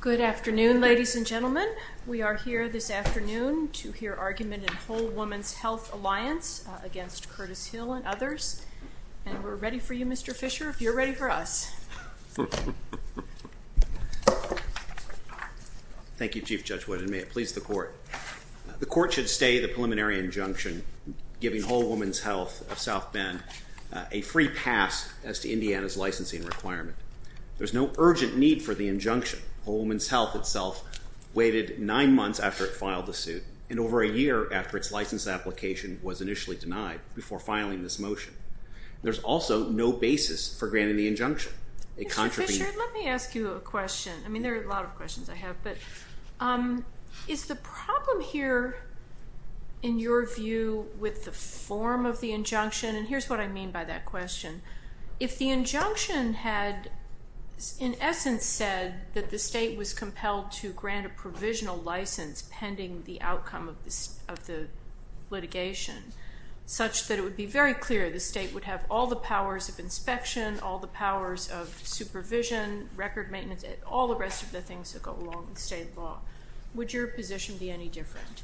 Good afternoon, ladies and gentlemen. We are here this afternoon to hear argument in Whole Woman's Health Alliance against Curtis Hill and others. And we're ready for you, Mr. Fisher, if you're ready for us. Thank you, Chief Judge Wood. And may it please the Court. The Court should stay the preliminary injunction giving Whole Woman's Health of South Bend a free pass as to Indiana's licensing requirement. There's no urgent need for the injunction. Whole Woman's Health itself waited nine months after it filed the suit and over a year after its license application was initially denied before filing this motion. There's also no basis for granting the injunction. Mr. Fisher, let me ask you a question. I mean, there are a lot of questions I have. But is the problem here, in your view, with the form of the injunction? And here's what I mean by that question. If the injunction had, in essence, said that the state was compelled to grant a provisional license pending the outcome of the litigation such that it would be very clear the state would have all the powers of inspection, all the powers of supervision, record maintenance, all the rest of the things that go along with state law, would your position be any different?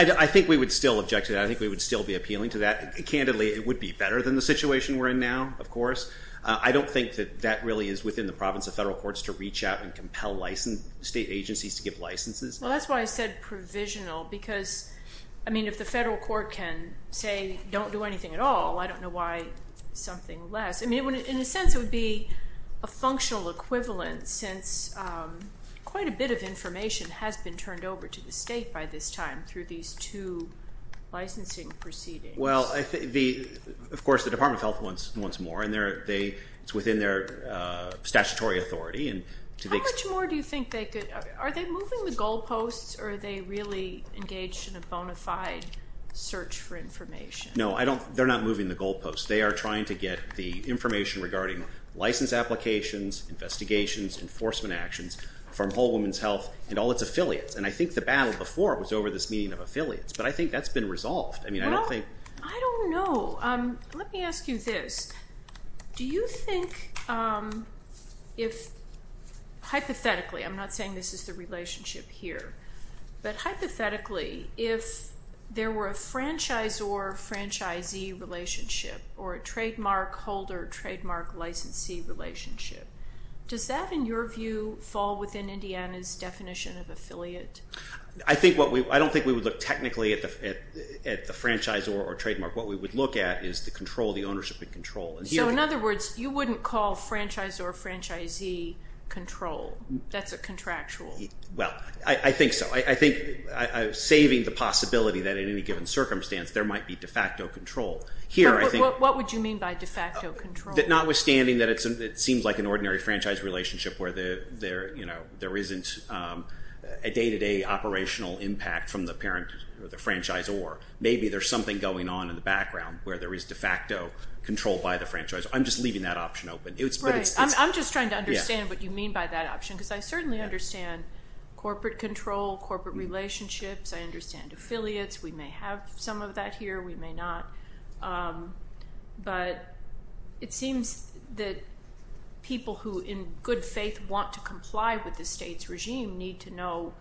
I think we would still object to that. I think we would still be appealing to that. Candidly, it would be better than the situation we're in now, of course. I don't think that that really is within the province of federal courts to reach out and compel state agencies to give licenses. Well, that's why I said provisional because, I mean, if the federal court can say don't do anything at all, I don't know why something less. I mean, in a sense it would be a functional equivalent since quite a bit of information has been turned over to the state by this time through these two licensing proceedings. Well, of course, the Department of Health wants more, and it's within their statutory authority. How much more do you think they could? Are they moving the goalposts, or are they really engaged in a bona fide search for information? No, they're not moving the goalposts. They are trying to get the information regarding license applications, investigations, enforcement actions from Whole Woman's Health and all its affiliates. And I think the battle before was over this meeting of affiliates, but I think that's been resolved. Well, I don't know. Let me ask you this. Do you think if hypothetically, I'm not saying this is the relationship here, but hypothetically if there were a franchisor-franchisee relationship or a trademark holder-trademark licensee relationship, does that, in your view, fall within Indiana's definition of affiliate? I don't think we would look technically at the franchisor or trademark. What we would look at is the control, the ownership and control. So in other words, you wouldn't call franchisor-franchisee control. That's a contractual. Well, I think so. I think saving the possibility that in any given circumstance there might be de facto control. What would you mean by de facto control? Notwithstanding that it seems like an ordinary franchise relationship where there isn't a day-to-day operational impact from the parent or the franchisor. Maybe there's something going on in the background where there is de facto control by the franchisor. I'm just leaving that option open. Right. I'm just trying to understand what you mean by that option because I certainly understand corporate control, corporate relationships. I understand affiliates. We may have some of that here. We may not. But it seems that people who in good faith want to comply with the state's regime need to know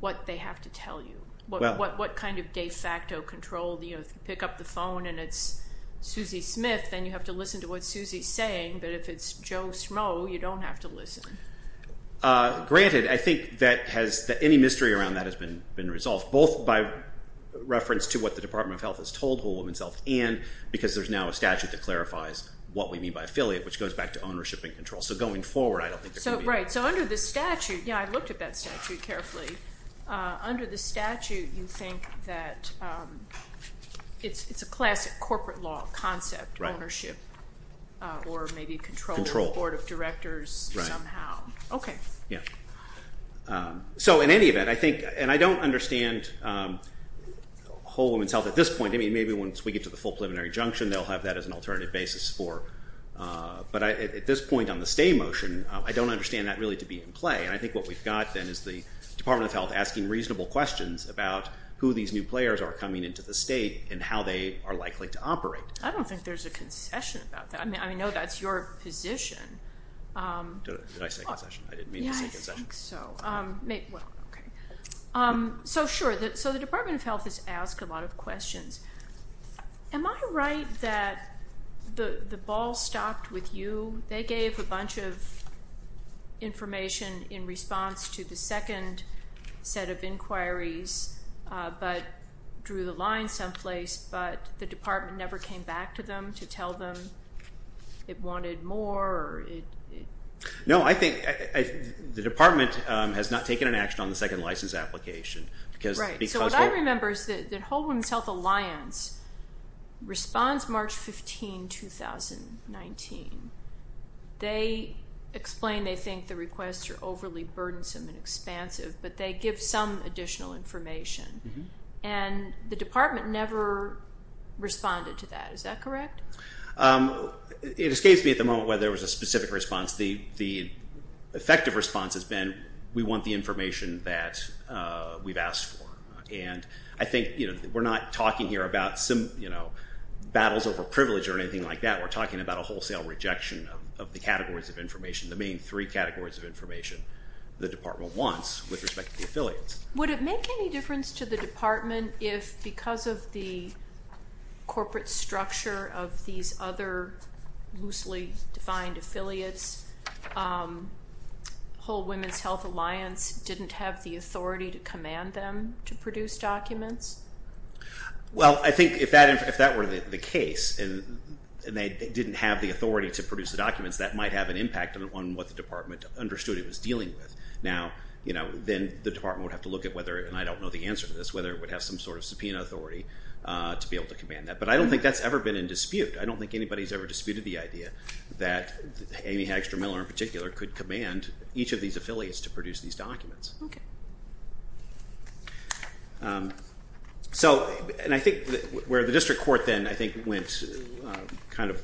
what they have to tell you, what kind of de facto control. If you pick up the phone and it's Susie Smith, then you have to listen to what Susie is saying. But if it's Joe Smough, you don't have to listen. Granted, I think any mystery around that has been resolved, both by reference to what the Department of Health has told Whole Woman's Health and because there's now a statute that clarifies what we mean by affiliate, which goes back to ownership and control. So going forward, I don't think there could be. Right. So under the statute, I looked at that statute carefully. Under the statute, you think that it's a classic corporate law concept, ownership or maybe control of board of directors somehow. Right. Okay. Yeah. So in any event, I think, and I don't understand Whole Woman's Health at this point. I mean, maybe once we get to the full preliminary junction, they'll have that as an alternative basis for. But at this point on the stay motion, I don't understand that really to be in play. And I think what we've got then is the Department of Health asking reasonable questions about who these new players are coming into the state and how they are likely to operate. I don't think there's a concession about that. I mean, I know that's your position. Did I say concession? I didn't mean to say concession. I don't think so. So, sure. So the Department of Health has asked a lot of questions. Am I right that the ball stopped with you? They gave a bunch of information in response to the second set of inquiries but drew the line someplace, but the department never came back to them to tell them it wanted more? No, I think the department has not taken an action on the second license application. Right. So what I remember is that Whole Woman's Health Alliance responds March 15, 2019. They explain they think the requests are overly burdensome and expansive, but they give some additional information. And the department never responded to that. Is that correct? It escapes me at the moment whether there was a specific response. The effective response has been we want the information that we've asked for. And I think we're not talking here about battles over privilege or anything like that. We're talking about a wholesale rejection of the categories of information, the main three categories of information the department wants with respect to the affiliates. Would it make any difference to the department if, because of the corporate structure of these other loosely-defined affiliates, Whole Woman's Health Alliance didn't have the authority to command them to produce documents? Well, I think if that were the case and they didn't have the authority to produce the documents, that might have an impact on what the department understood it was dealing with. Now, you know, then the department would have to look at whether, and I don't know the answer to this, whether it would have some sort of subpoena authority to be able to command that. But I don't think that's ever been in dispute. I don't think anybody's ever disputed the idea that Amy Hagstrom Miller in particular could command each of these affiliates to produce these documents. Okay. So, and I think where the district court then, I think, went kind of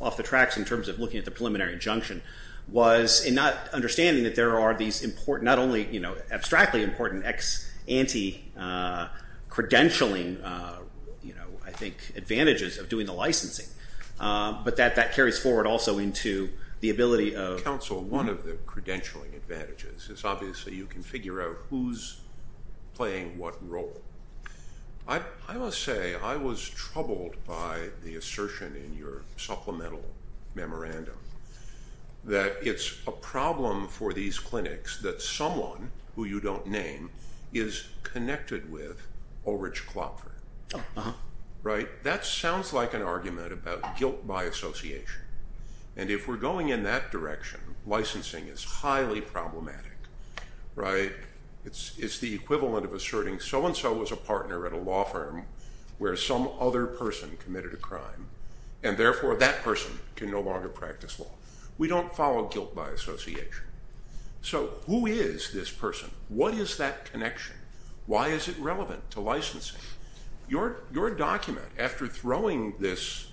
off the tracks in terms of looking at the preliminary injunction was in not understanding that there are these important, not only, you know, abstractly important anti-credentialing, you know, I think, advantages of doing the licensing. But that carries forward also into the ability of- Counsel, one of the credentialing advantages is obviously you can figure out who's playing what role. I must say I was troubled by the assertion in your supplemental memorandum that it's a problem for these clinics that someone who you don't name is connected with O. Rich Klopfer. Right? That sounds like an argument about guilt by association. And if we're going in that direction, licensing is highly problematic, right? It's the equivalent of asserting so-and-so was a partner at a law firm where some other person committed a crime, and therefore that person can no longer practice law. We don't follow guilt by association. So who is this person? What is that connection? Why is it relevant to licensing? Your document, after throwing this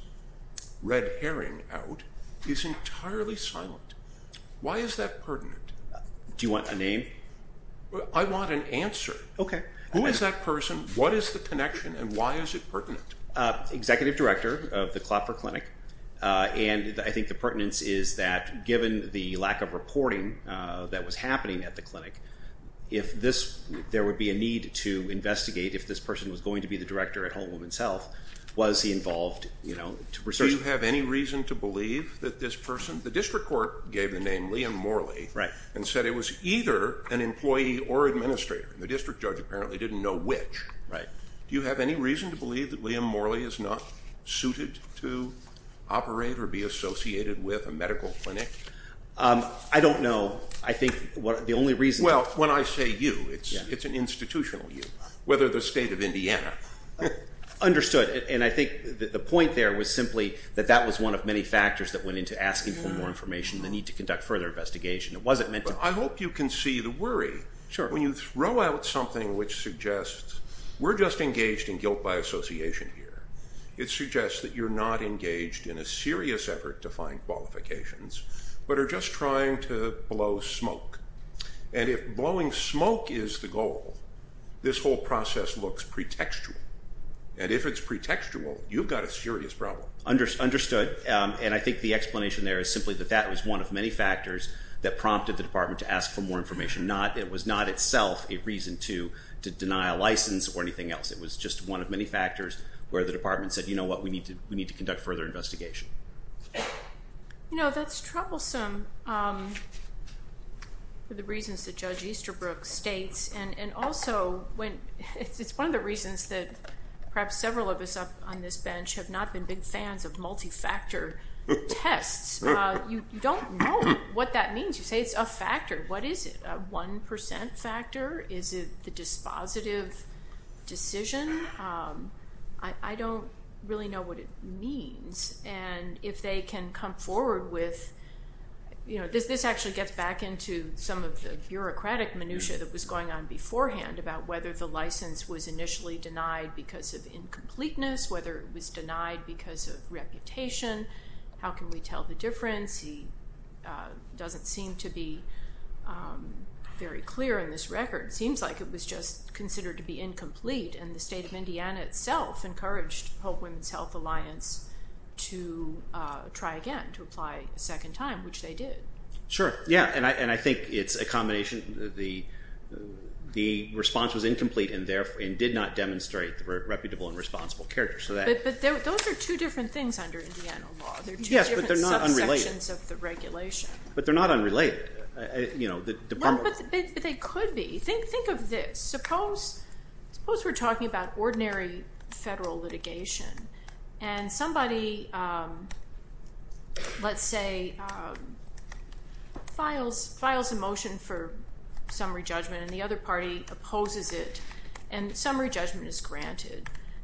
red herring out, is entirely silent. Why is that pertinent? Do you want a name? I want an answer. Okay. Who is that person? What is the connection? And why is it pertinent? Executive director of the Klopfer Clinic, and I think the pertinence is that given the lack of reporting that was happening at the clinic, if there would be a need to investigate if this person was going to be the director at Home Women's Health, was he involved to research? Do you have any reason to believe that this person? The district court gave the name Liam Morley and said it was either an employee or administrator, and the district judge apparently didn't know which. Right. Do you have any reason to believe that Liam Morley is not suited to operate or be associated with a medical clinic? I don't know. I think the only reason. Well, when I say you, it's an institutional you, whether the state of Indiana. Understood. And I think the point there was simply that that was one of many factors that went into asking for more information, the need to conduct further investigation. I hope you can see the worry. Sure. When you throw out something which suggests we're just engaged in guilt by association here, it suggests that you're not engaged in a serious effort to find qualifications but are just trying to blow smoke. And if blowing smoke is the goal, this whole process looks pretextual. And if it's pretextual, you've got a serious problem. Understood. And I think the explanation there is simply that that was one of many factors that prompted the department to ask for more information. It was not itself a reason to deny a license or anything else. It was just one of many factors where the department said, you know what, we need to conduct further investigation. You know, that's troublesome for the reasons that Judge Easterbrook states, and also it's one of the reasons that perhaps several of us up on this bench have not been big fans of multi-factor tests. You don't know what that means. You say it's a factor. What is it, a 1% factor? Is it the dispositive decision? I don't really know what it means. And if they can come forward with, you know, this actually gets back into some of the bureaucratic minutia that was going on beforehand about whether the license was initially denied because of incompleteness, whether it was denied because of reputation, how can we tell the difference? The accuracy doesn't seem to be very clear in this record. It seems like it was just considered to be incomplete, and the state of Indiana itself encouraged Hope Women's Health Alliance to try again, to apply a second time, which they did. Sure, yeah, and I think it's a combination. The response was incomplete and did not demonstrate the reputable and responsible character. But those are two different things under Indiana law. Yes, but they're not unrelated. They're two different subsections of the regulation. But they're not unrelated. But they could be. Think of this. Suppose we're talking about ordinary federal litigation, and somebody, let's say, files a motion for summary judgment,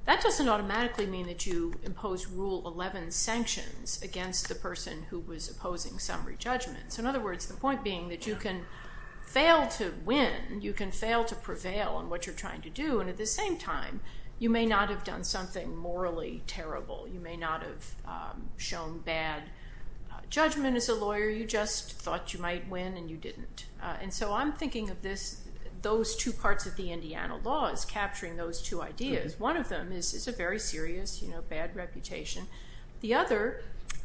that doesn't automatically mean that you impose Rule 11 sanctions against the person who was opposing summary judgment. So in other words, the point being that you can fail to win, you can fail to prevail on what you're trying to do, and at the same time, you may not have done something morally terrible. You may not have shown bad judgment as a lawyer. You just thought you might win, and you didn't. And so I'm thinking of those two parts of the Indiana law as capturing those two ideas. One of them is a very serious, you know, bad reputation. The other,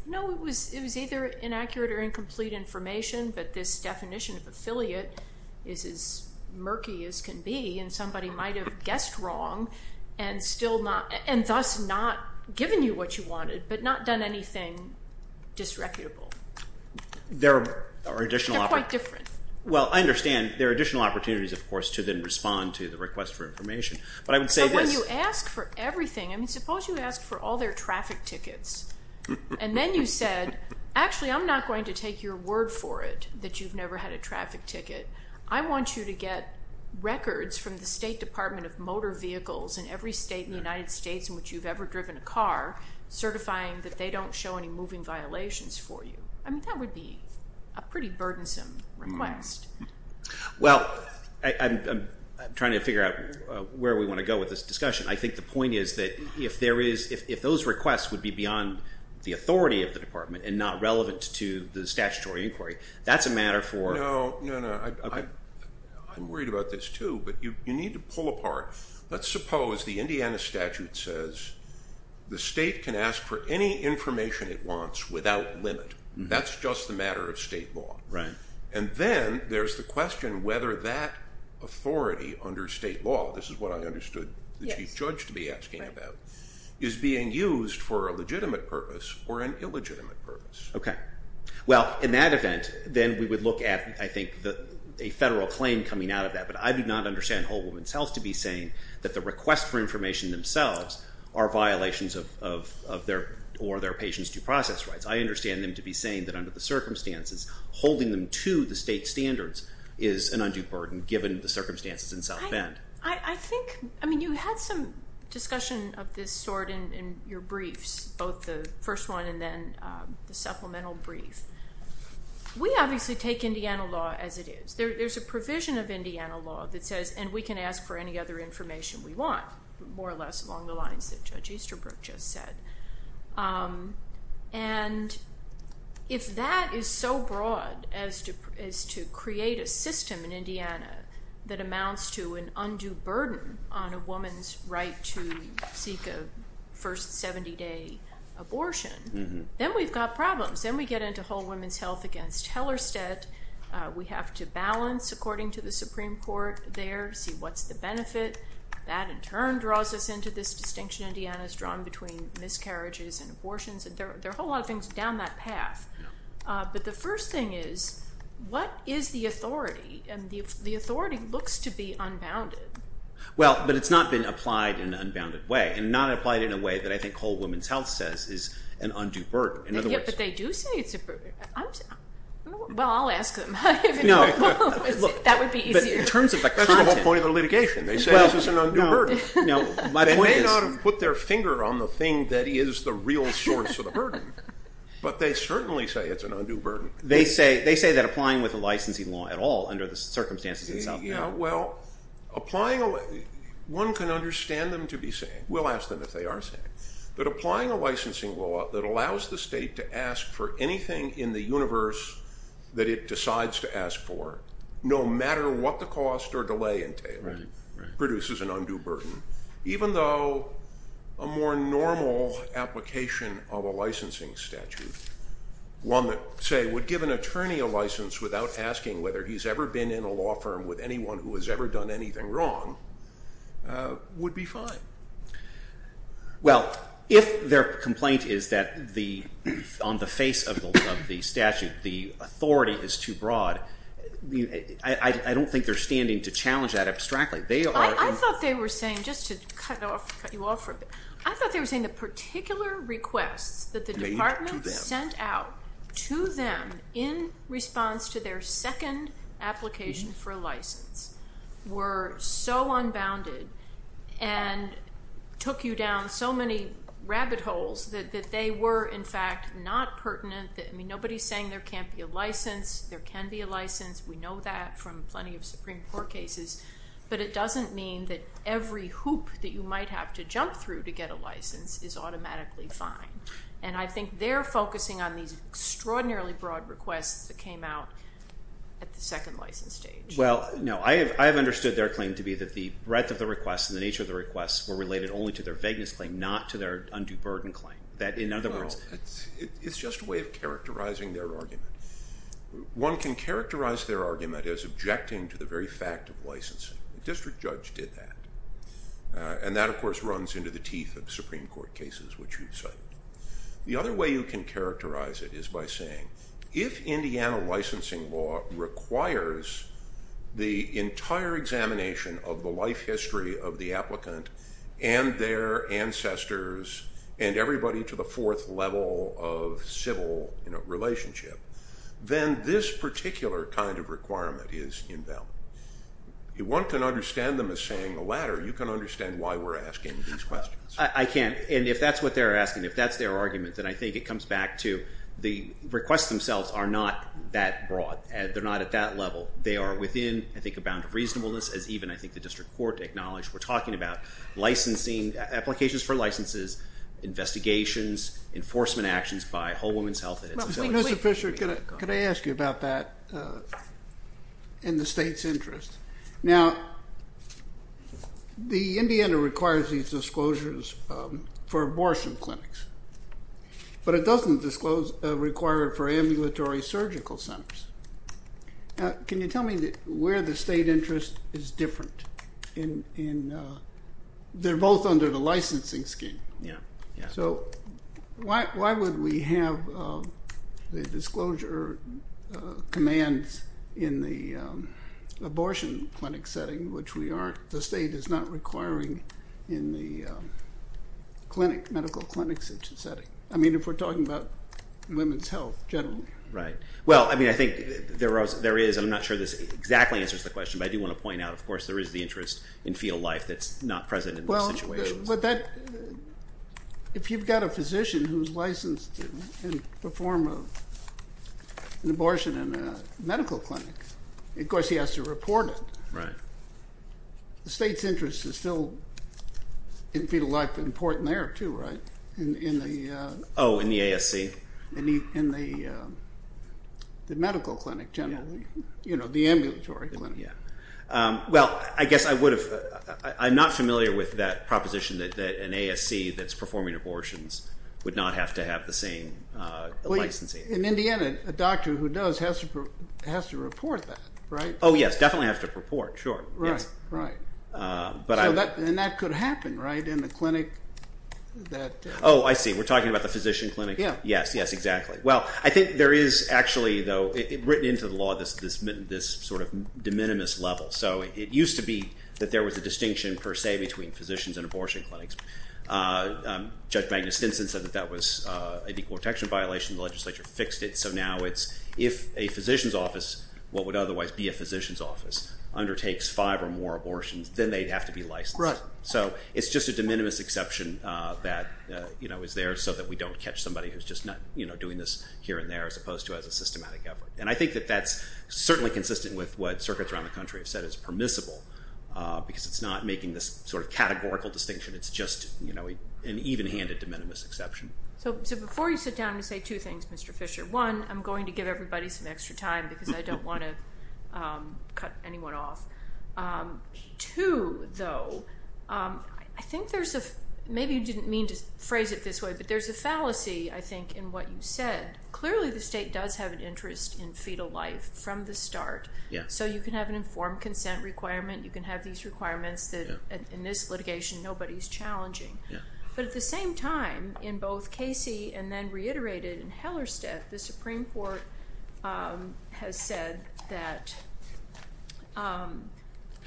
no, it was either inaccurate or incomplete information, but this definition of affiliate is as murky as can be, and somebody might have guessed wrong and thus not given you what you wanted but not done anything disreputable. They're quite different. Well, I understand. There are additional opportunities, of course, to then respond to the request for information, but I would say this. But when you ask for everything, I mean, suppose you ask for all their traffic tickets, and then you said, actually, I'm not going to take your word for it that you've never had a traffic ticket. I want you to get records from the State Department of Motor Vehicles in every state in the United States in which you've ever driven a car certifying that they don't show any moving violations for you. I mean, that would be a pretty burdensome request. Well, I'm trying to figure out where we want to go with this discussion. I think the point is that if those requests would be beyond the authority of the department and not relevant to the statutory inquiry, that's a matter for... No, no, no. I'm worried about this too, but you need to pull apart. Let's suppose the Indiana statute says the state can ask for any information it wants without limit. That's just a matter of state law. Right. And then there's the question whether that authority under state law, this is what I understood the chief judge to be asking about, is being used for a legitimate purpose or an illegitimate purpose. Okay. Well, in that event, then we would look at, I think, a federal claim coming out of that. But I do not understand Whole Woman's Health to be saying that the requests for information themselves are violations of their or their patient's due process rights. I understand them to be saying that under the circumstances, holding them to the state standards is an undue burden given the circumstances in South Bend. I think, I mean, you had some discussion of this sort in your briefs, both the first one and then the supplemental brief. We obviously take Indiana law as it is. There's a provision of Indiana law that says, and we can ask for any other information we want, more or less along the lines that Judge Easterbrook just said. And if that is so broad as to create a system in Indiana that amounts to an undue burden on a woman's right to seek a first 70-day abortion, then we've got problems. Then we get into Whole Woman's Health against Hellerstedt. We have to balance, according to the Supreme Court there, see what's the benefit. That, in turn, draws us into this distinction Indiana has drawn between miscarriages and abortions. There are a whole lot of things down that path. But the first thing is, what is the authority? And the authority looks to be unbounded. Well, but it's not been applied in an unbounded way and not applied in a way that I think Whole Woman's Health says is an undue burden. But they do say it's a burden. Well, I'll ask them. That would be easier. That's the whole point of the litigation. They say this is an undue burden. They may not have put their finger on the thing that is the real source of the burden, but they certainly say it's an undue burden. They say that applying with a licensing law at all under the circumstances itself. Well, one can understand them to be saying, we'll ask them if they are saying, but applying a licensing law that allows the state to ask for anything in the universe that it decides to ask for, no matter what the cost or delay entailed, produces an undue burden, even though a more normal application of a licensing statute, one that, say, would give an attorney a license without asking whether he's ever been in a law firm with anyone who has ever done anything wrong, would be fine. Well, if their complaint is that on the face of the statute, the authority is too broad, I don't think they're standing to challenge that abstractly. I thought they were saying, just to cut you off for a bit, I thought they were saying the particular requests that the department sent out to them in response to their second application for a license were so unbounded and took you down so many rabbit holes that they were, in fact, not pertinent. I mean, nobody's saying there can't be a license. There can be a license. We know that from plenty of Supreme Court cases. But it doesn't mean that every hoop that you might have to jump through to get a license is automatically fine. And I think they're focusing on these extraordinarily broad requests that came out at the second license stage. Well, no, I have understood their claim to be that the breadth of the request and the nature of the request were related only to their vagueness claim, not to their undue burden claim. That, in other words... It's just a way of characterizing their argument. One can characterize their argument as objecting to the very fact of licensing. The district judge did that. And that, of course, runs into the teeth of Supreme Court cases, which you've cited. The other way you can characterize it is by saying, if Indiana licensing law requires the entire examination of the life history of the applicant and their ancestors and everybody to the fourth level of civil relationship, then this particular kind of requirement is invalid. One can understand them as saying the latter. You can understand why we're asking these questions. I can. And if that's what they're asking, if that's their argument, then I think it comes back to the requests themselves are not that broad. They're not at that level. They are within, I think, a bound of reasonableness, as even I think the district court acknowledged. We're talking about licensing, applications for licenses, investigations, enforcement actions by Whole Woman's Health. Mr. Fisher, could I ask you about that in the state's interest? Now, the Indiana requires these disclosures for abortion clinics, but it doesn't require it for ambulatory surgical centers. Can you tell me where the state interest is different? They're both under the licensing scheme. So why would we have the disclosure commands in the abortion clinic setting, which the state is not requiring in the medical clinic setting? I mean, if we're talking about women's health generally. Right. Well, I mean, I think there is. I'm not sure this exactly answers the question, but I do want to point out, of course, there is the interest in field life that's not present in those situations. If you've got a physician who's licensed to perform an abortion in a medical clinic, of course he has to report it. Right. The state's interest is still in field life important there too, right? Oh, in the ASC? In the medical clinic generally, you know, the ambulatory clinic. Well, I guess I would have – I'm not familiar with that proposition that an ASC that's performing abortions would not have to have the same licensing. In Indiana, a doctor who does has to report that, right? Oh, yes, definitely has to report, sure. Right, right. And that could happen, right, in the clinic that – Oh, I see. We're talking about the physician clinic? Yes, yes, exactly. Well, I think there is actually, though, written into the law this sort of de minimis level. So it used to be that there was a distinction per se between physicians and abortion clinics. Judge Magnus Stinson said that that was an equal protection violation. The legislature fixed it. So now it's if a physician's office, what would otherwise be a physician's office, undertakes five or more abortions, then they'd have to be licensed. Right. So it's just a de minimis exception that is there so that we don't catch somebody who's just not doing this here and there as opposed to as a systematic effort. And I think that that's certainly consistent with what circuits around the country have said is permissible because it's not making this sort of categorical distinction. It's just an even-handed de minimis exception. So before you sit down and say two things, Mr. Fisher, one, I'm going to give everybody some extra time because I don't want to cut anyone off. Two, though, I think there's a – maybe you didn't mean to phrase it this way, but there's a fallacy, I think, in what you said. Clearly the state does have an interest in fetal life from the start. So you can have an informed consent requirement. You can have these requirements that in this litigation nobody's challenging. But at the same time, in both Casey and then reiterated in Hellerstedt, the Supreme Court has said that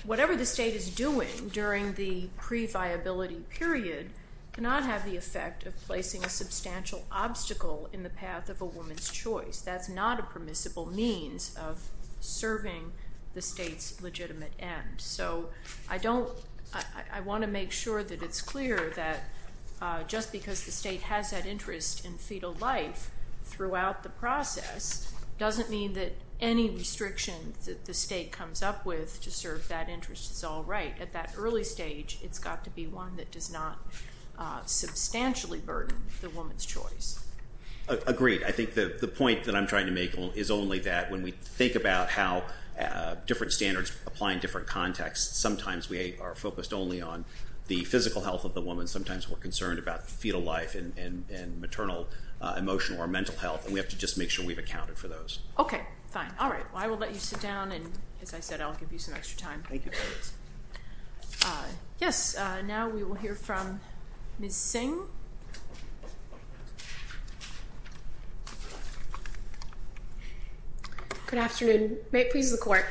whatever the state is doing during the pre-viability period cannot have the effect of placing a substantial obstacle in the path of a woman's choice. That's not a permissible means of serving the state's legitimate end. So I want to make sure that it's clear that just because the state has that interest in fetal life throughout the process doesn't mean that any restriction that the state comes up with to serve that interest is all right. At that early stage, it's got to be one that does not substantially burden the woman's choice. Agreed. I think the point that I'm trying to make is only that when we think about how different standards apply in different contexts, sometimes we are focused only on the physical health of the woman. Sometimes we're concerned about fetal life and maternal emotional or mental health, and we have to just make sure we've accounted for those. Okay. Fine. All right. Well, I will let you sit down, and as I said, I'll give you some extra time. Thank you. Yes, now we will hear from Ms. Singh. Good afternoon. May it please the Court.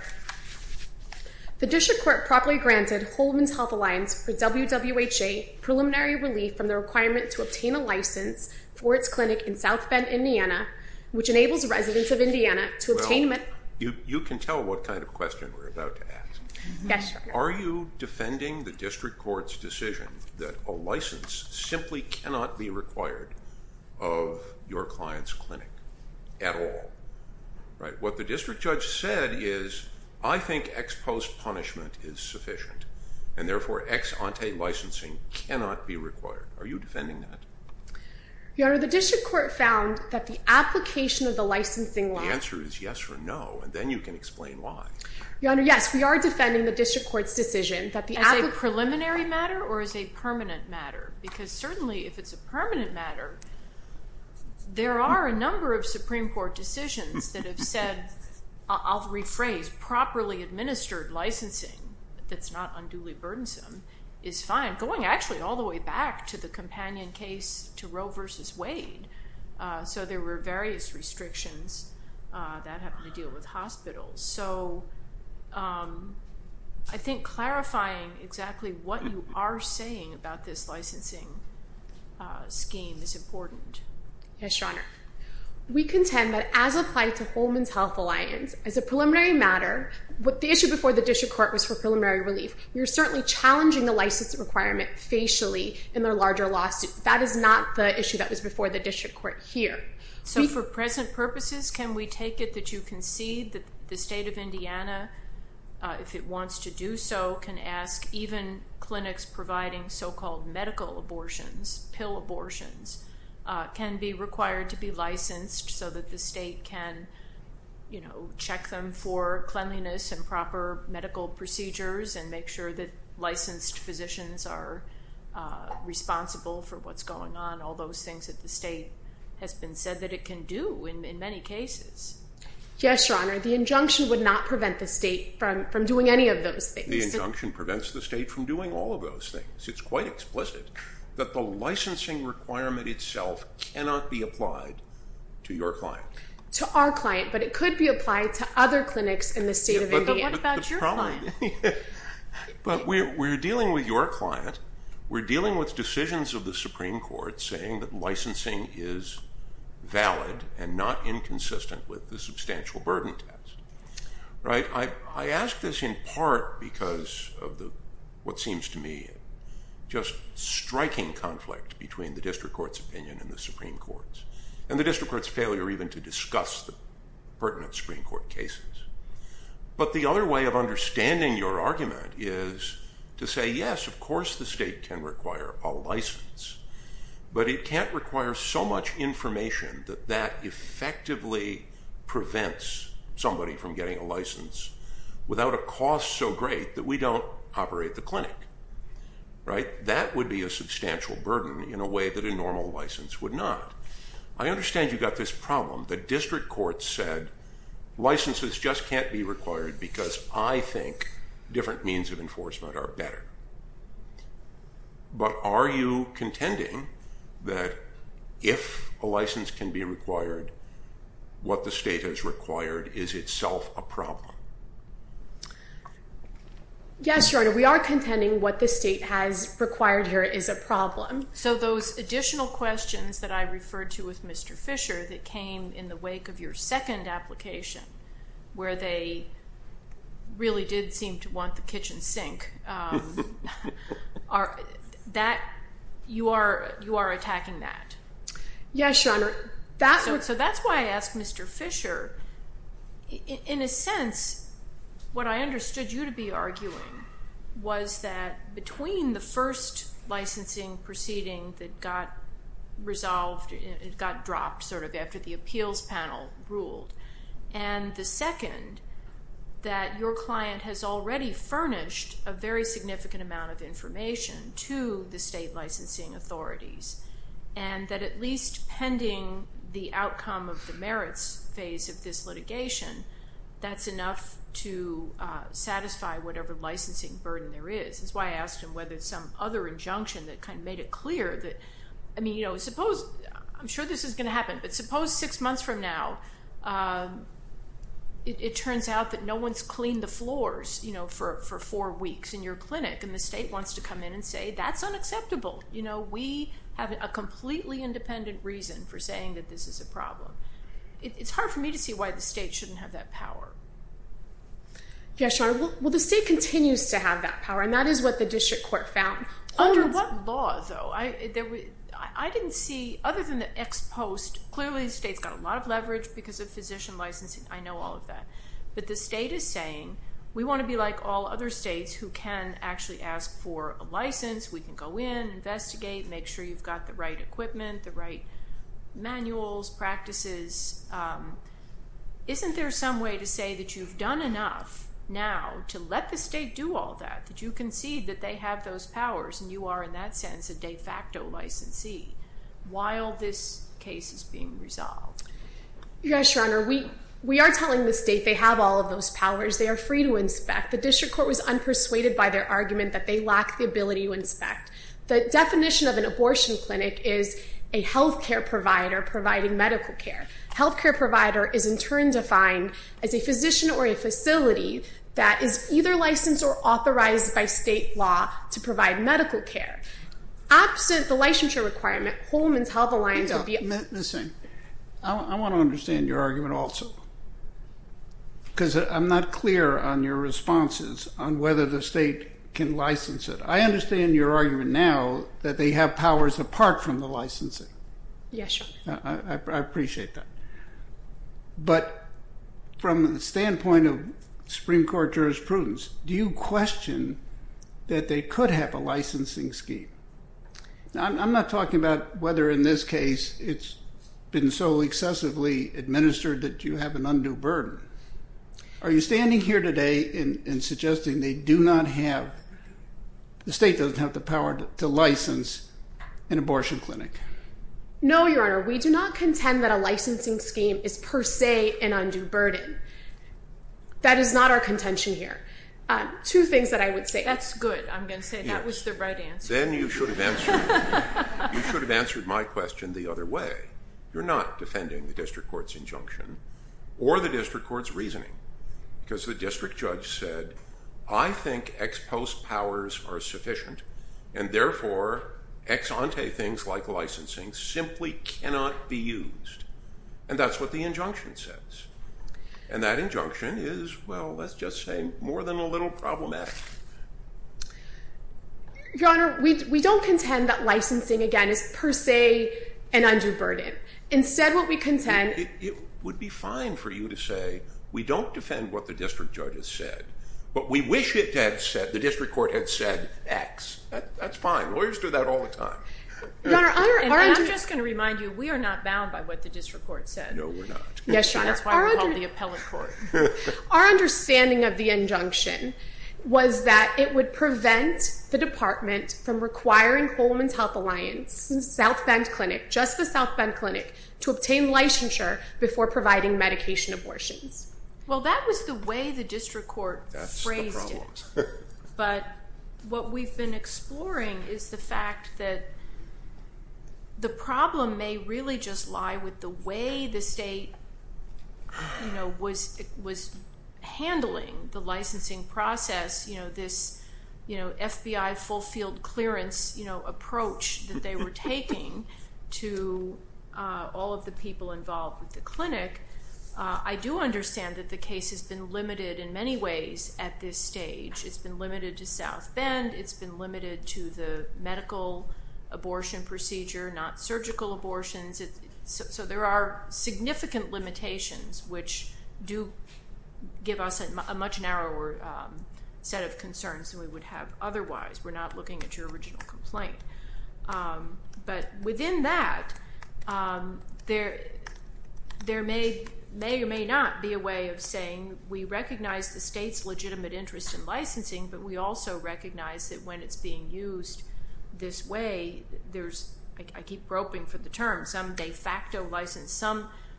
The district court properly granted Holman's Health Alliance for WWHA preliminary relief from the requirement to obtain a license for its clinic in South Bend, Indiana, which enables residents of Indiana to obtain medical care. You can tell what kind of question we're about to ask. Yes, Your Honor. Are you defending the district court's decision that a license simply cannot be required of your client's clinic at all? What the district judge said is, I think ex post punishment is sufficient, and therefore ex ante licensing cannot be required. Are you defending that? Your Honor, the district court found that the application of the licensing law The answer is yes or no, and then you can explain why. Your Honor, yes, we are defending the district court's decision that the application As a preliminary matter or as a permanent matter? Because certainly if it's a permanent matter, there are a number of Supreme Court decisions that have said, I'll rephrase, properly administered licensing that's not unduly burdensome is fine, going actually all the way back to the companion case to Roe v. Wade. So there were various restrictions that have to deal with hospitals. So I think clarifying exactly what you are saying about this licensing scheme is important. Yes, Your Honor. We contend that as applied to Holman's Health Alliance, as a preliminary matter, the issue before the district court was for preliminary relief. You're certainly challenging the license requirement facially in their larger lawsuit. That is not the issue that was before the district court here. So for present purposes, can we take it that you concede that the state of Indiana, if it wants to do so, can ask even clinics providing so-called medical abortions, pill abortions, can be required to be licensed so that the state can, you know, check them for cleanliness and proper medical procedures and make sure that licensed physicians are responsible for what's going on, all those things that the state has been said that it can do in many cases? Yes, Your Honor. The injunction would not prevent the state from doing any of those things. The injunction prevents the state from doing all of those things. It's quite explicit that the licensing requirement itself cannot be applied to your client. To our client, but it could be applied to other clinics in the state of Indiana. What about your client? But we're dealing with your client. We're dealing with decisions of the Supreme Court saying that licensing is valid and not inconsistent with the substantial burden test. I ask this in part because of what seems to me just striking conflict between the district court's opinion and the Supreme Court's and the district court's failure even to discuss the pertinent Supreme Court cases. But the other way of understanding your argument is to say, yes, of course the state can require a license, but it can't require so much information that that effectively prevents somebody from getting a license without a cost so great that we don't operate the clinic. Right? That would be a substantial burden in a way that a normal license would not. I understand you've got this problem. The district court said licenses just can't be required because I think different means of enforcement are better. But are you contending that if a license can be required, what the state has required is itself a problem? Yes, Your Honor, we are contending what the state has required here is a problem. So those additional questions that I referred to with Mr. Fisher that came in the wake of your second application where they really did seem to want the kitchen sink, you are attacking that? Yes, Your Honor. So that's why I asked Mr. Fisher. In a sense, what I understood you to be arguing was that between the first licensing proceeding that got resolved, it got dropped sort of after the appeals panel ruled, and the second that your client has already furnished a very significant amount of information to the state licensing authorities and that at least pending the outcome of the merits phase of this litigation, that's enough to satisfy whatever licensing burden there is. That's why I asked him whether some other injunction that kind of made it clear that, I mean, suppose, I'm sure this is going to happen, but suppose six months from now, it turns out that no one's cleaned the floors for four weeks in your clinic and the state wants to come in and say that's unacceptable. We have a completely independent reason for saying that this is a problem. It's hard for me to see why the state shouldn't have that power. Yes, Your Honor. Well, the state continues to have that power, and that is what the district court found. Under what law, though? I didn't see, other than the ex post, clearly the state's got a lot of leverage because of physician licensing. I know all of that. But the state is saying we want to be like all other states who can actually ask for a license. We can go in, investigate, make sure you've got the right equipment, the right manuals, practices. Isn't there some way to say that you've done enough now to let the state do all that, that you concede that they have those powers and you are in that sense a de facto licensee while this case is being resolved? Yes, Your Honor. We are telling the state they have all of those powers. They are free to inspect. The district court was unpersuaded by their argument that they lack the ability to inspect. The definition of an abortion clinic is a health care provider providing medical care. A health care provider is in turn defined as a physician or a facility that is either licensed or authorized by state law to provide medical care. Absent the licensure requirement, Holman's Health Alliance would be- Ms. Singh, I want to understand your argument also because I'm not clear on your responses on whether the state can license it. I understand your argument now that they have powers apart from the licensing. Yes, Your Honor. I appreciate that. But from the standpoint of Supreme Court jurisprudence, do you question that they could have a licensing scheme? I'm not talking about whether in this case it's been so excessively administered that you have an undue burden. Are you standing here today and suggesting they do not have- the state doesn't have the power to license an abortion clinic? No, Your Honor. We do not contend that a licensing scheme is per se an undue burden. That is not our contention here. Two things that I would say- That's good, I'm going to say. That was the right answer. Then you should have answered my question the other way. You're not defending the district court's injunction or the district court's reasoning because the district judge said, I think ex post powers are sufficient, and therefore ex ante things like licensing simply cannot be used. And that's what the injunction says. And that injunction is, well, let's just say more than a little problematic. Your Honor, we don't contend that licensing, again, is per se an undue burden. Instead what we contend- It would be fine for you to say, we don't defend what the district judge has said, but we wish the district court had said ex. That's fine. Lawyers do that all the time. Your Honor- And I'm just going to remind you we are not bound by what the district court said. No, we're not. Yes, Your Honor. That's why we call it the appellate court. Our understanding of the injunction was that it would prevent the department from requiring Holman's Health Alliance and South Bend Clinic, just the South Bend Clinic, to obtain licensure before providing medication abortions. Well, that was the way the district court phrased it. That's the problem. But what we've been exploring is the fact that the problem may really just lie with the way the state was handling the licensing process, this FBI full field clearance approach that they were taking to all of the people involved with the clinic. I do understand that the case has been limited in many ways at this stage. It's been limited to South Bend. It's been limited to the medical abortion procedure, not surgical abortions. So there are significant limitations, which do give us a much narrower set of concerns than we would have otherwise. We're not looking at your original complaint. But within that, there may or may not be a way of saying we recognize the state's legitimate interest in licensing, but we also recognize that when it's being used this way, I keep groping for the term, some de facto license,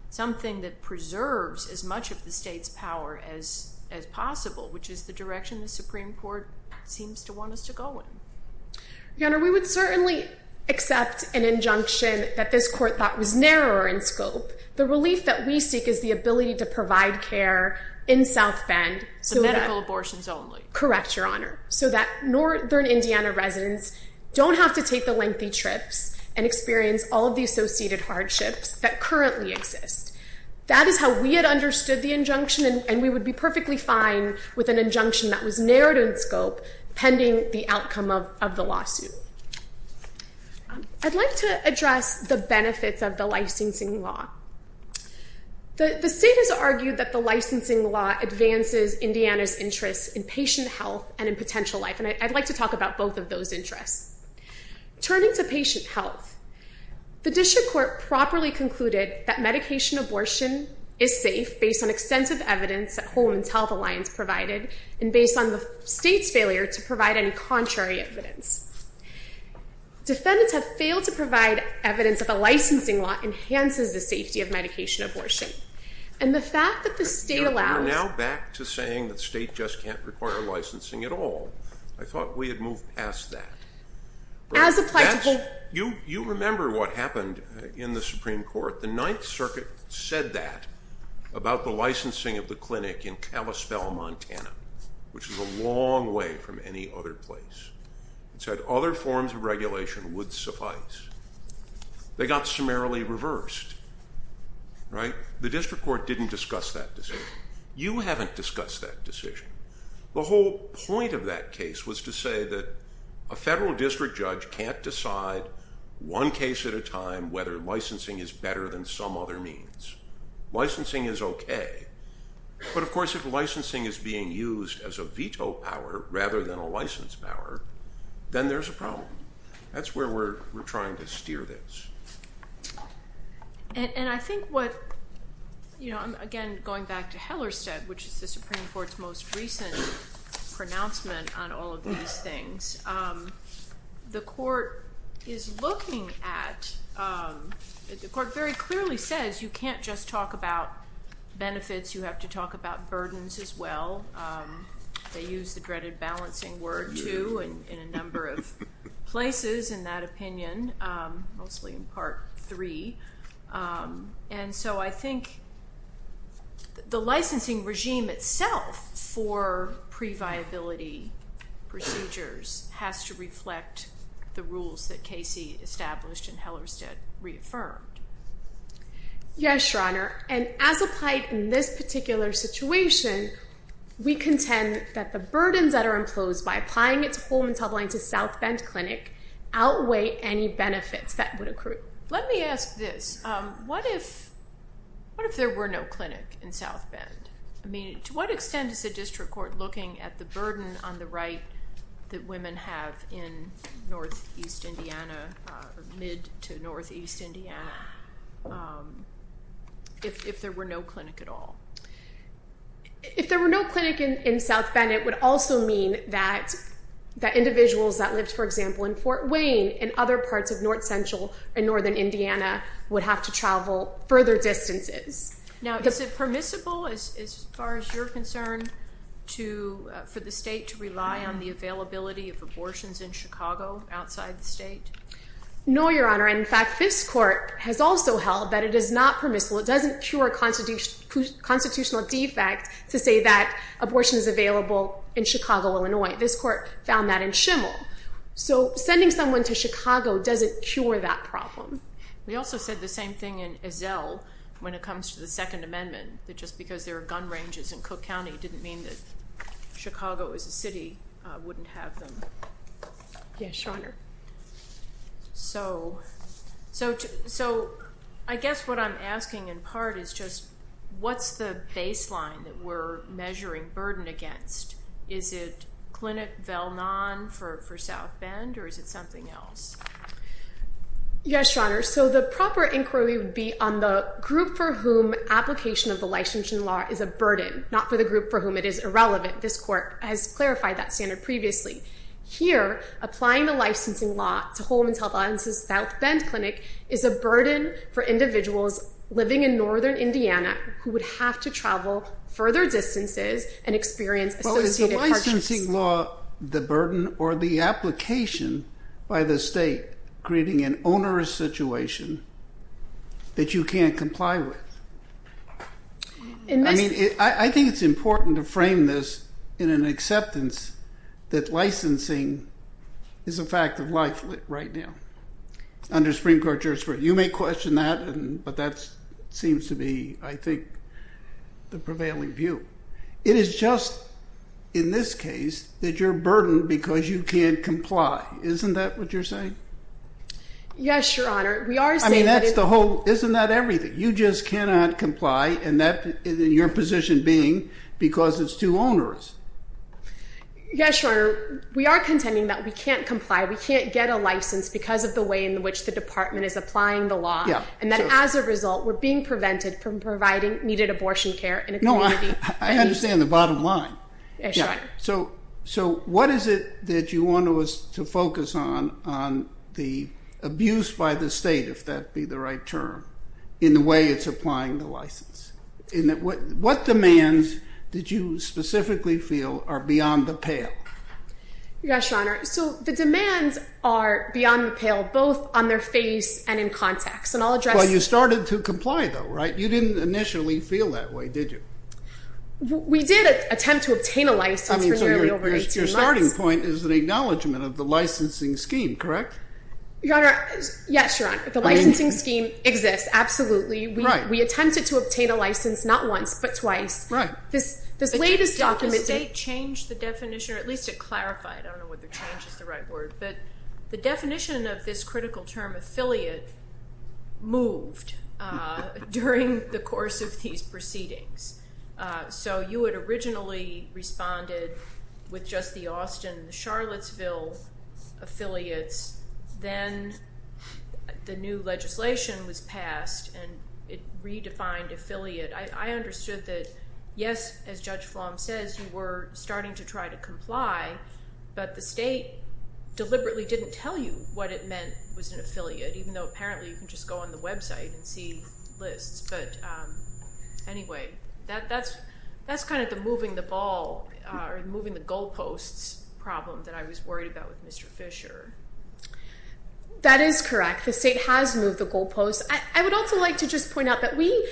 something that preserves as much of the state's power as possible, which is the direction the Supreme Court seems to want us to go in. Your Honor, we would certainly accept an injunction that this court thought was narrower in scope. The relief that we seek is the ability to provide care in South Bend. So medical abortions only. Correct, Your Honor. So that Northern Indiana residents don't have to take the lengthy trips and experience all of the associated hardships that currently exist. That is how we had understood the injunction, and we would be perfectly fine with an injunction that was narrowed in scope pending the outcome of the lawsuit. I'd like to address the benefits of the licensing law. The state has argued that the licensing law advances Indiana's interest in patient health and in potential life, and I'd like to talk about both of those interests. Turning to patient health, the district court properly concluded that medication abortion is safe based on extensive evidence that Whole Woman's Health Alliance provided and based on the state's failure to provide any contrary evidence. Defendants have failed to provide evidence that the licensing law enhances the safety of medication abortion. And the fact that the state allows... We're now back to saying the state just can't require licensing at all. I thought we had moved past that. As applied to both... You remember what happened in the Supreme Court. The Ninth Circuit said that about the licensing of the clinic in Kalispell, Montana, which is a long way from any other place. It said other forms of regulation would suffice. They got summarily reversed. The district court didn't discuss that decision. You haven't discussed that decision. The whole point of that case was to say that a federal district judge can't decide one case at a time whether licensing is better than some other means. Licensing is okay, but of course if licensing is being used as a veto power rather than a license power, then there's a problem. That's where we're trying to steer this. And I think what... Again, going back to Hellerstedt, which is the Supreme Court's most recent pronouncement on all of these things, the court is looking at... The court very clearly says you can't just talk about benefits, you have to talk about burdens as well. They use the dreaded balancing word, too, in a number of places in that opinion, mostly in Part 3. And so I think the licensing regime itself for pre-viability procedures has to reflect the rules that Casey established and Hellerstedt reaffirmed. Yes, Your Honor, and as applied in this particular situation, we contend that the burdens that are imposed by applying it to Holman-Tubline to South Bend Clinic outweigh any benefits that would accrue. Let me ask this. What if there were no clinic in South Bend? I mean, to what extent is the district court looking at the burden on the right that women have in northeast Indiana, or mid to northeast Indiana, if there were no clinic at all? If there were no clinic in South Bend, then it would also mean that individuals that lived, for example, in Fort Wayne and other parts of north central and northern Indiana would have to travel further distances. Now, is it permissible, as far as you're concerned, for the state to rely on the availability of abortions in Chicago outside the state? No, Your Honor. In fact, this court has also held that it is not permissible. It doesn't cure a constitutional defect to say that abortion is available in Chicago, Illinois. This court found that in Schimel. So sending someone to Chicago doesn't cure that problem. We also said the same thing in Ezell when it comes to the Second Amendment, that just because there are gun ranges in Cook County didn't mean that Chicago as a city wouldn't have them. Yes, Your Honor. So I guess what I'm asking in part is just what's the baseline that we're measuring burden against? Is it clinic Velnon for South Bend, or is it something else? Yes, Your Honor. So the proper inquiry would be on the group for whom application of the licensing law is a burden, not for the group for whom it is irrelevant. This court has clarified that standard previously. Here, applying the licensing law to Holman Health Audience's South Bend clinic is a burden for individuals living in northern Indiana who would have to travel further distances and experience associated hardships. Well, is the licensing law the burden or the application by the state creating an onerous situation that you can't comply with? I mean, I think it's important to frame this in an acceptance that licensing is a fact of life right now under Supreme Court jurisprudence. You may question that, but that seems to be, I think, the prevailing view. It is just, in this case, that you're burdened because you can't comply. Isn't that what you're saying? Yes, Your Honor. We are saying that it's... I mean, isn't that everything? You just cannot comply, and your position being because it's too onerous. Yes, Your Honor. We are contending that we can't comply. We can't get a license because of the way in which the department is applying the law. And then as a result, we're being prevented from providing needed abortion care in a community... No, I understand the bottom line. Yes, Your Honor. So what is it that you want us to focus on on the abuse by the state, if that be the right term, in the way it's applying the license? What demands did you specifically feel are beyond the pale? Yes, Your Honor. So the demands are beyond the pale, both on their face and in context, and I'll address... Well, you started to comply, though, right? You didn't initially feel that way, did you? We did attempt to obtain a license for nearly over 18 months. Your starting point is an acknowledgment of the licensing scheme, correct? Your Honor, yes, Your Honor. The licensing scheme exists, absolutely. We attempted to obtain a license not once, but twice. Right. This latest document... Did the state change the definition, or at least it clarified? I don't know whether change is the right word. But the definition of this critical term, affiliate, moved during the course of these proceedings. So you had originally responded with just the Austin, the Charlottesville affiliates. Then the new legislation was passed, and it redefined affiliate. I understood that, yes, as Judge Flom says, you were starting to try to comply, but the state deliberately didn't tell you what it meant was an affiliate, even though apparently you can just go on the website and see lists. But anyway, that's kind of the moving the ball, or moving the goalposts problem that I was worried about with Mr. Fisher. That is correct. The state has moved the goalposts. I would also like to just point out that we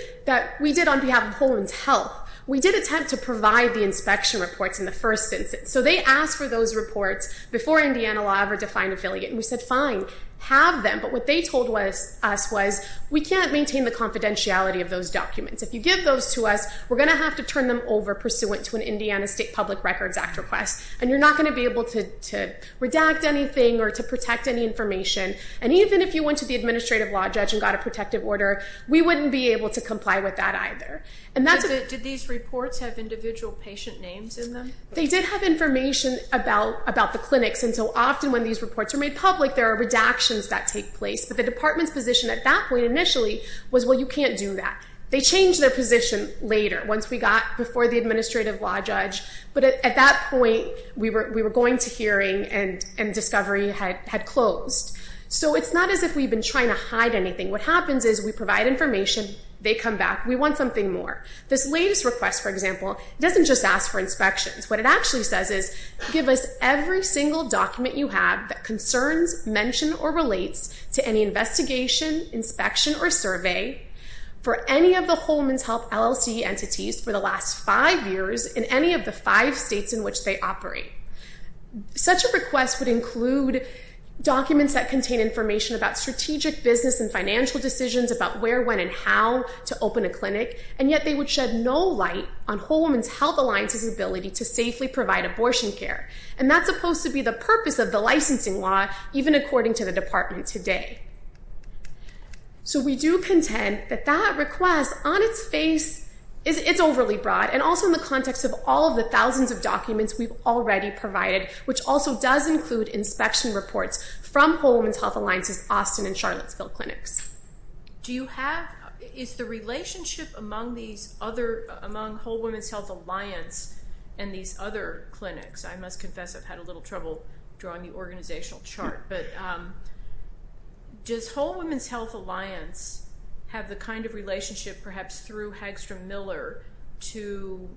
did on behalf of Poland's health. We did attempt to provide the inspection reports in the first instance. So they asked for those reports before Indiana law ever defined affiliate, and we said, fine, have them. But what they told us was we can't maintain the confidentiality of those documents. If you give those to us, we're going to have to turn them over pursuant to an Indiana State Public Records Act request, and you're not going to be able to redact anything or to protect any information. And even if you went to the administrative law judge and got a protective order, we wouldn't be able to comply with that either. Did these reports have individual patient names in them? They did have information about the clinics, and so often when these reports are made public, there are redactions that take place. But the department's position at that point initially was, well, you can't do that. They changed their position later, once we got before the administrative law judge. But at that point, we were going to hearing, and discovery had closed. So it's not as if we've been trying to hide anything. What happens is we provide information, they come back, we want something more. This latest request, for example, doesn't just ask for inspections. What it actually says is, give us every single document you have that concerns, mention, or relates to any investigation, inspection, or survey for any of the Holman's Health LLC entities for the last five years in any of the five states in which they operate. Such a request would include documents that contain information about strategic business and financial decisions about where, when, and how to open a clinic, and yet they would shed no light on Holman's Health Alliance's ability to safely provide abortion care. And that's supposed to be the purpose of the licensing law, even according to the department today. So we do contend that that request, on its face, it's overly broad, and also in the context of all of the thousands of documents we've already provided, which also does include inspection reports from Holman's Health Alliance's Charlottesville clinics. Do you have, is the relationship among these other, among Holman's Health Alliance and these other clinics, I must confess I've had a little trouble drawing the organizational chart, but does Holman's Health Alliance have the kind of relationship, perhaps through Hagstrom Miller, to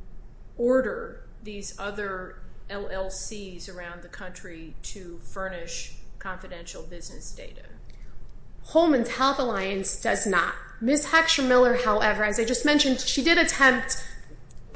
order these other LLCs around the country to furnish confidential business data? Holman's Health Alliance does not. Ms. Hagstrom Miller, however, as I just mentioned, she did attempt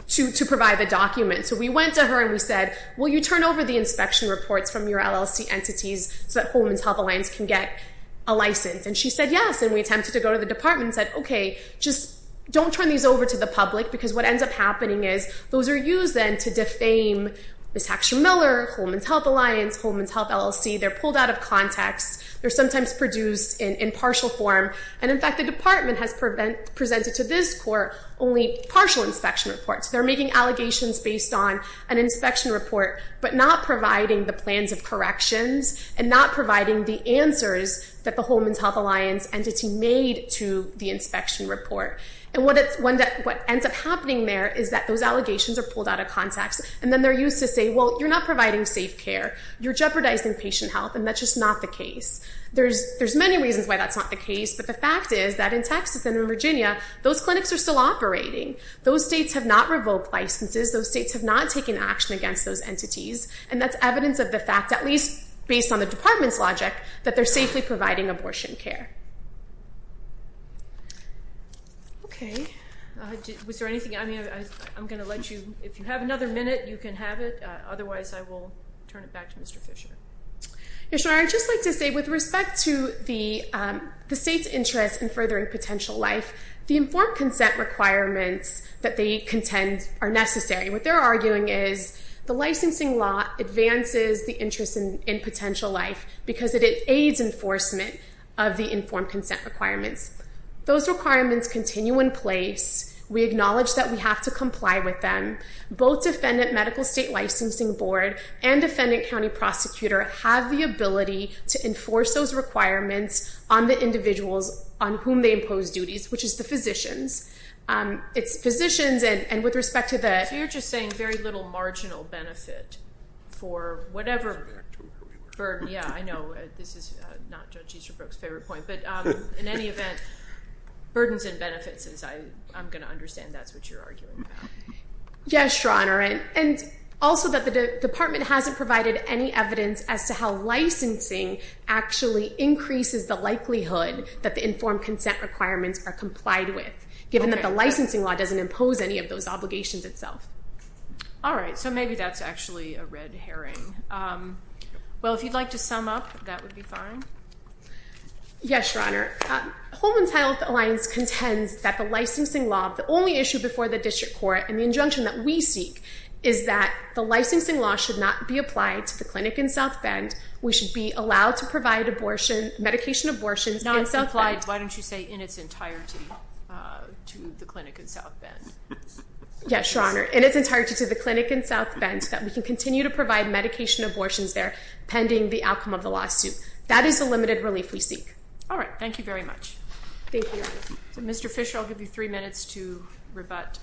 to provide the documents. So we went to her and we said, will you turn over the inspection reports from your LLC entities so that Holman's Health Alliance can get a license? And she said yes, and we attempted to go to the department and said, okay, just don't turn these over to the public because what ends up happening is those are used then to defame Ms. Hagstrom Miller, Holman's Health Alliance, Holman's Health LLC. They're pulled out of context. They're sometimes produced in partial form. And in fact, the department has presented to this court only partial inspection reports. They're making allegations based on an inspection report, but not providing the plans of corrections and not providing the answers that the Holman's Health Alliance entity made to the inspection report. And what ends up happening there is that those allegations are pulled out of context, and then they're used to say, well, you're not providing safe care. You're jeopardizing patient health, and that's just not the case. There's many reasons why that's not the case, but the fact is that in Texas and in Virginia, those clinics are still operating. Those states have not revoked licenses. Those states have not taken action against those entities, and that's evidence of the fact, at least based on the department's logic, that they're safely providing abortion care. Okay. Was there anything? I mean, I'm going to let you. If you have another minute, you can have it. Otherwise, I will turn it back to Mr. Fisher. Yes, Your Honor. I'd just like to say with respect to the state's interest in furthering potential life, the informed consent requirements that they contend are necessary. What they're arguing is the licensing law advances the interest in potential life because it aids enforcement of the informed consent requirements. Those requirements continue in place. We acknowledge that we have to comply with them. Both Defendant Medical State Licensing Board and Defendant County Prosecutor have the ability to enforce those requirements on the individuals on whom they impose duties, which is the physicians. It's physicians, and with respect to the- So you're just saying very little marginal benefit for whatever- Yeah, I know. This is not Judge Easterbrook's favorite point, but in any event, burdens and benefits, I'm going to understand that's what you're arguing about. Yes, Your Honor, and also that the department hasn't provided any evidence as to how licensing actually increases the likelihood that the informed consent requirements are complied with, given that the licensing law doesn't impose any of those obligations itself. All right, so maybe that's actually a red herring. Well, if you'd like to sum up, that would be fine. Yes, Your Honor. Holman's Health Alliance contends that the licensing law, the only issue before the district court, and the injunction that we seek is that the licensing law should not be applied to the clinic in South Bend. We should be allowed to provide abortion, medication abortions in South Bend. Why don't you say in its entirety to the clinic in South Bend? Yes, Your Honor, in its entirety to the clinic in South Bend so that we can continue to provide medication abortions there pending the outcome of the lawsuit. That is the limited relief we seek. All right, thank you very much. Thank you, Your Honor. Mr. Fisher, I'll give you three minutes to rebut.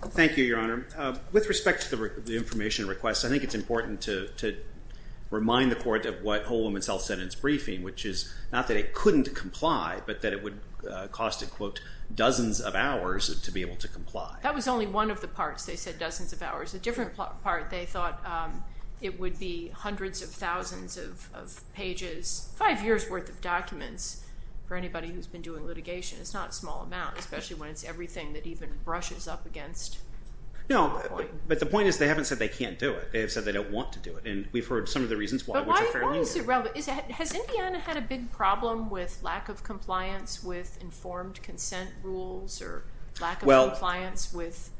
Thank you, Your Honor. With respect to the information request, I think it's important to remind the court of what Holman's Health said in its briefing, which is not that it couldn't comply, but that it would cost, quote, dozens of hours to be able to comply. That was only one of the parts. They said dozens of hours. The different part, they thought it would be hundreds of thousands of pages, five years' worth of documents for anybody who's been doing litigation. It's not a small amount, especially when it's everything that even brushes up against... No, but the point is they haven't said they can't do it. They have said they don't want to do it, and we've heard some of the reasons why, which are fairly clear. But why is it relevant? Has Indiana had a big problem with lack of compliance with informed consent rules, or lack of compliance with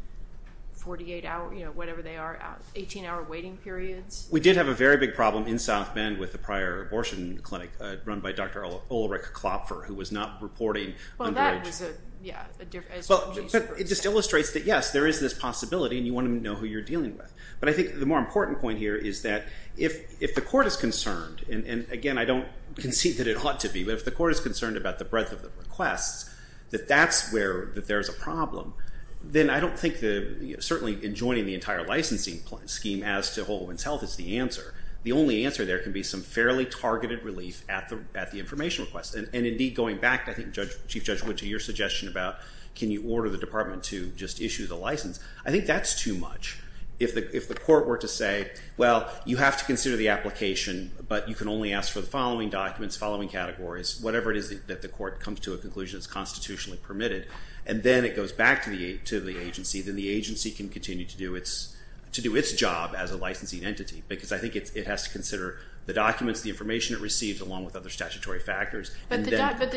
48-hour, whatever they are, 18-hour waiting periods? We did have a very big problem in South Bend with a prior abortion clinic run by Dr. Ulrich Klopfer, who was not reporting underage. Well, that was a difference. It just illustrates that, yes, there is this possibility, and you want to know who you're dealing with. But I think the more important point here is that if the court is concerned, and again, I don't concede that it ought to be, but if the court is concerned about the breadth of the requests, that that's where there's a problem, then I don't think that certainly enjoining the entire licensing scheme as to a whole woman's health is the answer. The only answer there can be some fairly targeted relief at the information request. And indeed, going back, I think Chief Judge Wood, to your suggestion about can you order the department to just issue the license, I think that's too much. If the court were to say, well, you have to consider the application, but you can only ask for the following documents, following categories, whatever it is that the court comes to a conclusion is constitutionally permitted, and then it goes back to the agency, then the agency can continue to do its job as a licensing entity, because I think it has to consider the documents, the information it receives, along with other statutory factors. But the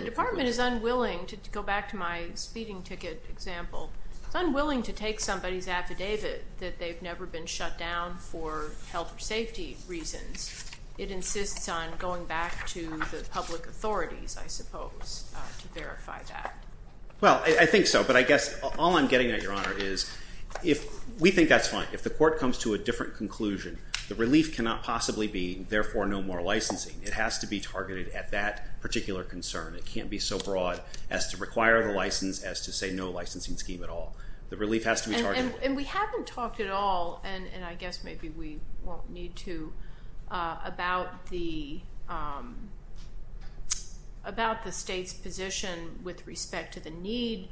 department is unwilling, to go back to my speeding ticket example, it's unwilling to take somebody's affidavit that they've never been shut down for health or safety reasons. It insists on going back to the public authorities, I suppose, to verify that. Well, I think so, but I guess all I'm getting at, Your Honor, is we think that's fine. If the court comes to a different conclusion, the relief cannot possibly be, therefore, no more licensing. It has to be targeted at that particular concern. It can't be so broad as to require the license, as to say no licensing scheme at all. The relief has to be targeted. And we haven't talked at all, and I guess maybe we won't need to, about the state's position with respect to the need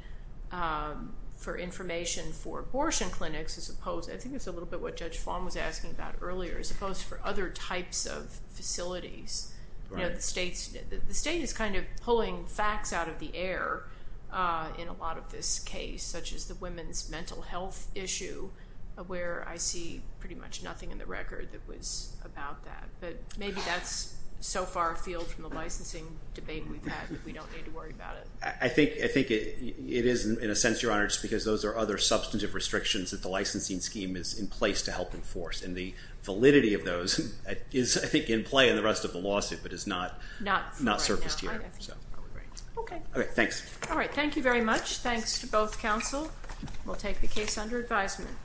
for information for abortion clinics, as opposed, I think it's a little bit what Judge Fong was asking about earlier, as opposed to other types of facilities. The state is kind of pulling facts out of the air in a lot of this case, such as the women's mental health issue, where I see pretty much nothing in the record that was about that. But maybe that's so far afield from the licensing debate we've had that we don't need to worry about it. I think it is, in a sense, Your Honor, just because those are other substantive restrictions that the licensing scheme is in place to help enforce. And the validity of those is, I think, in play in the rest of the lawsuit, but has not surfaced yet. Okay. All right, thanks. All right, thank you very much. Thanks to both counsel. We'll take the case under advisement.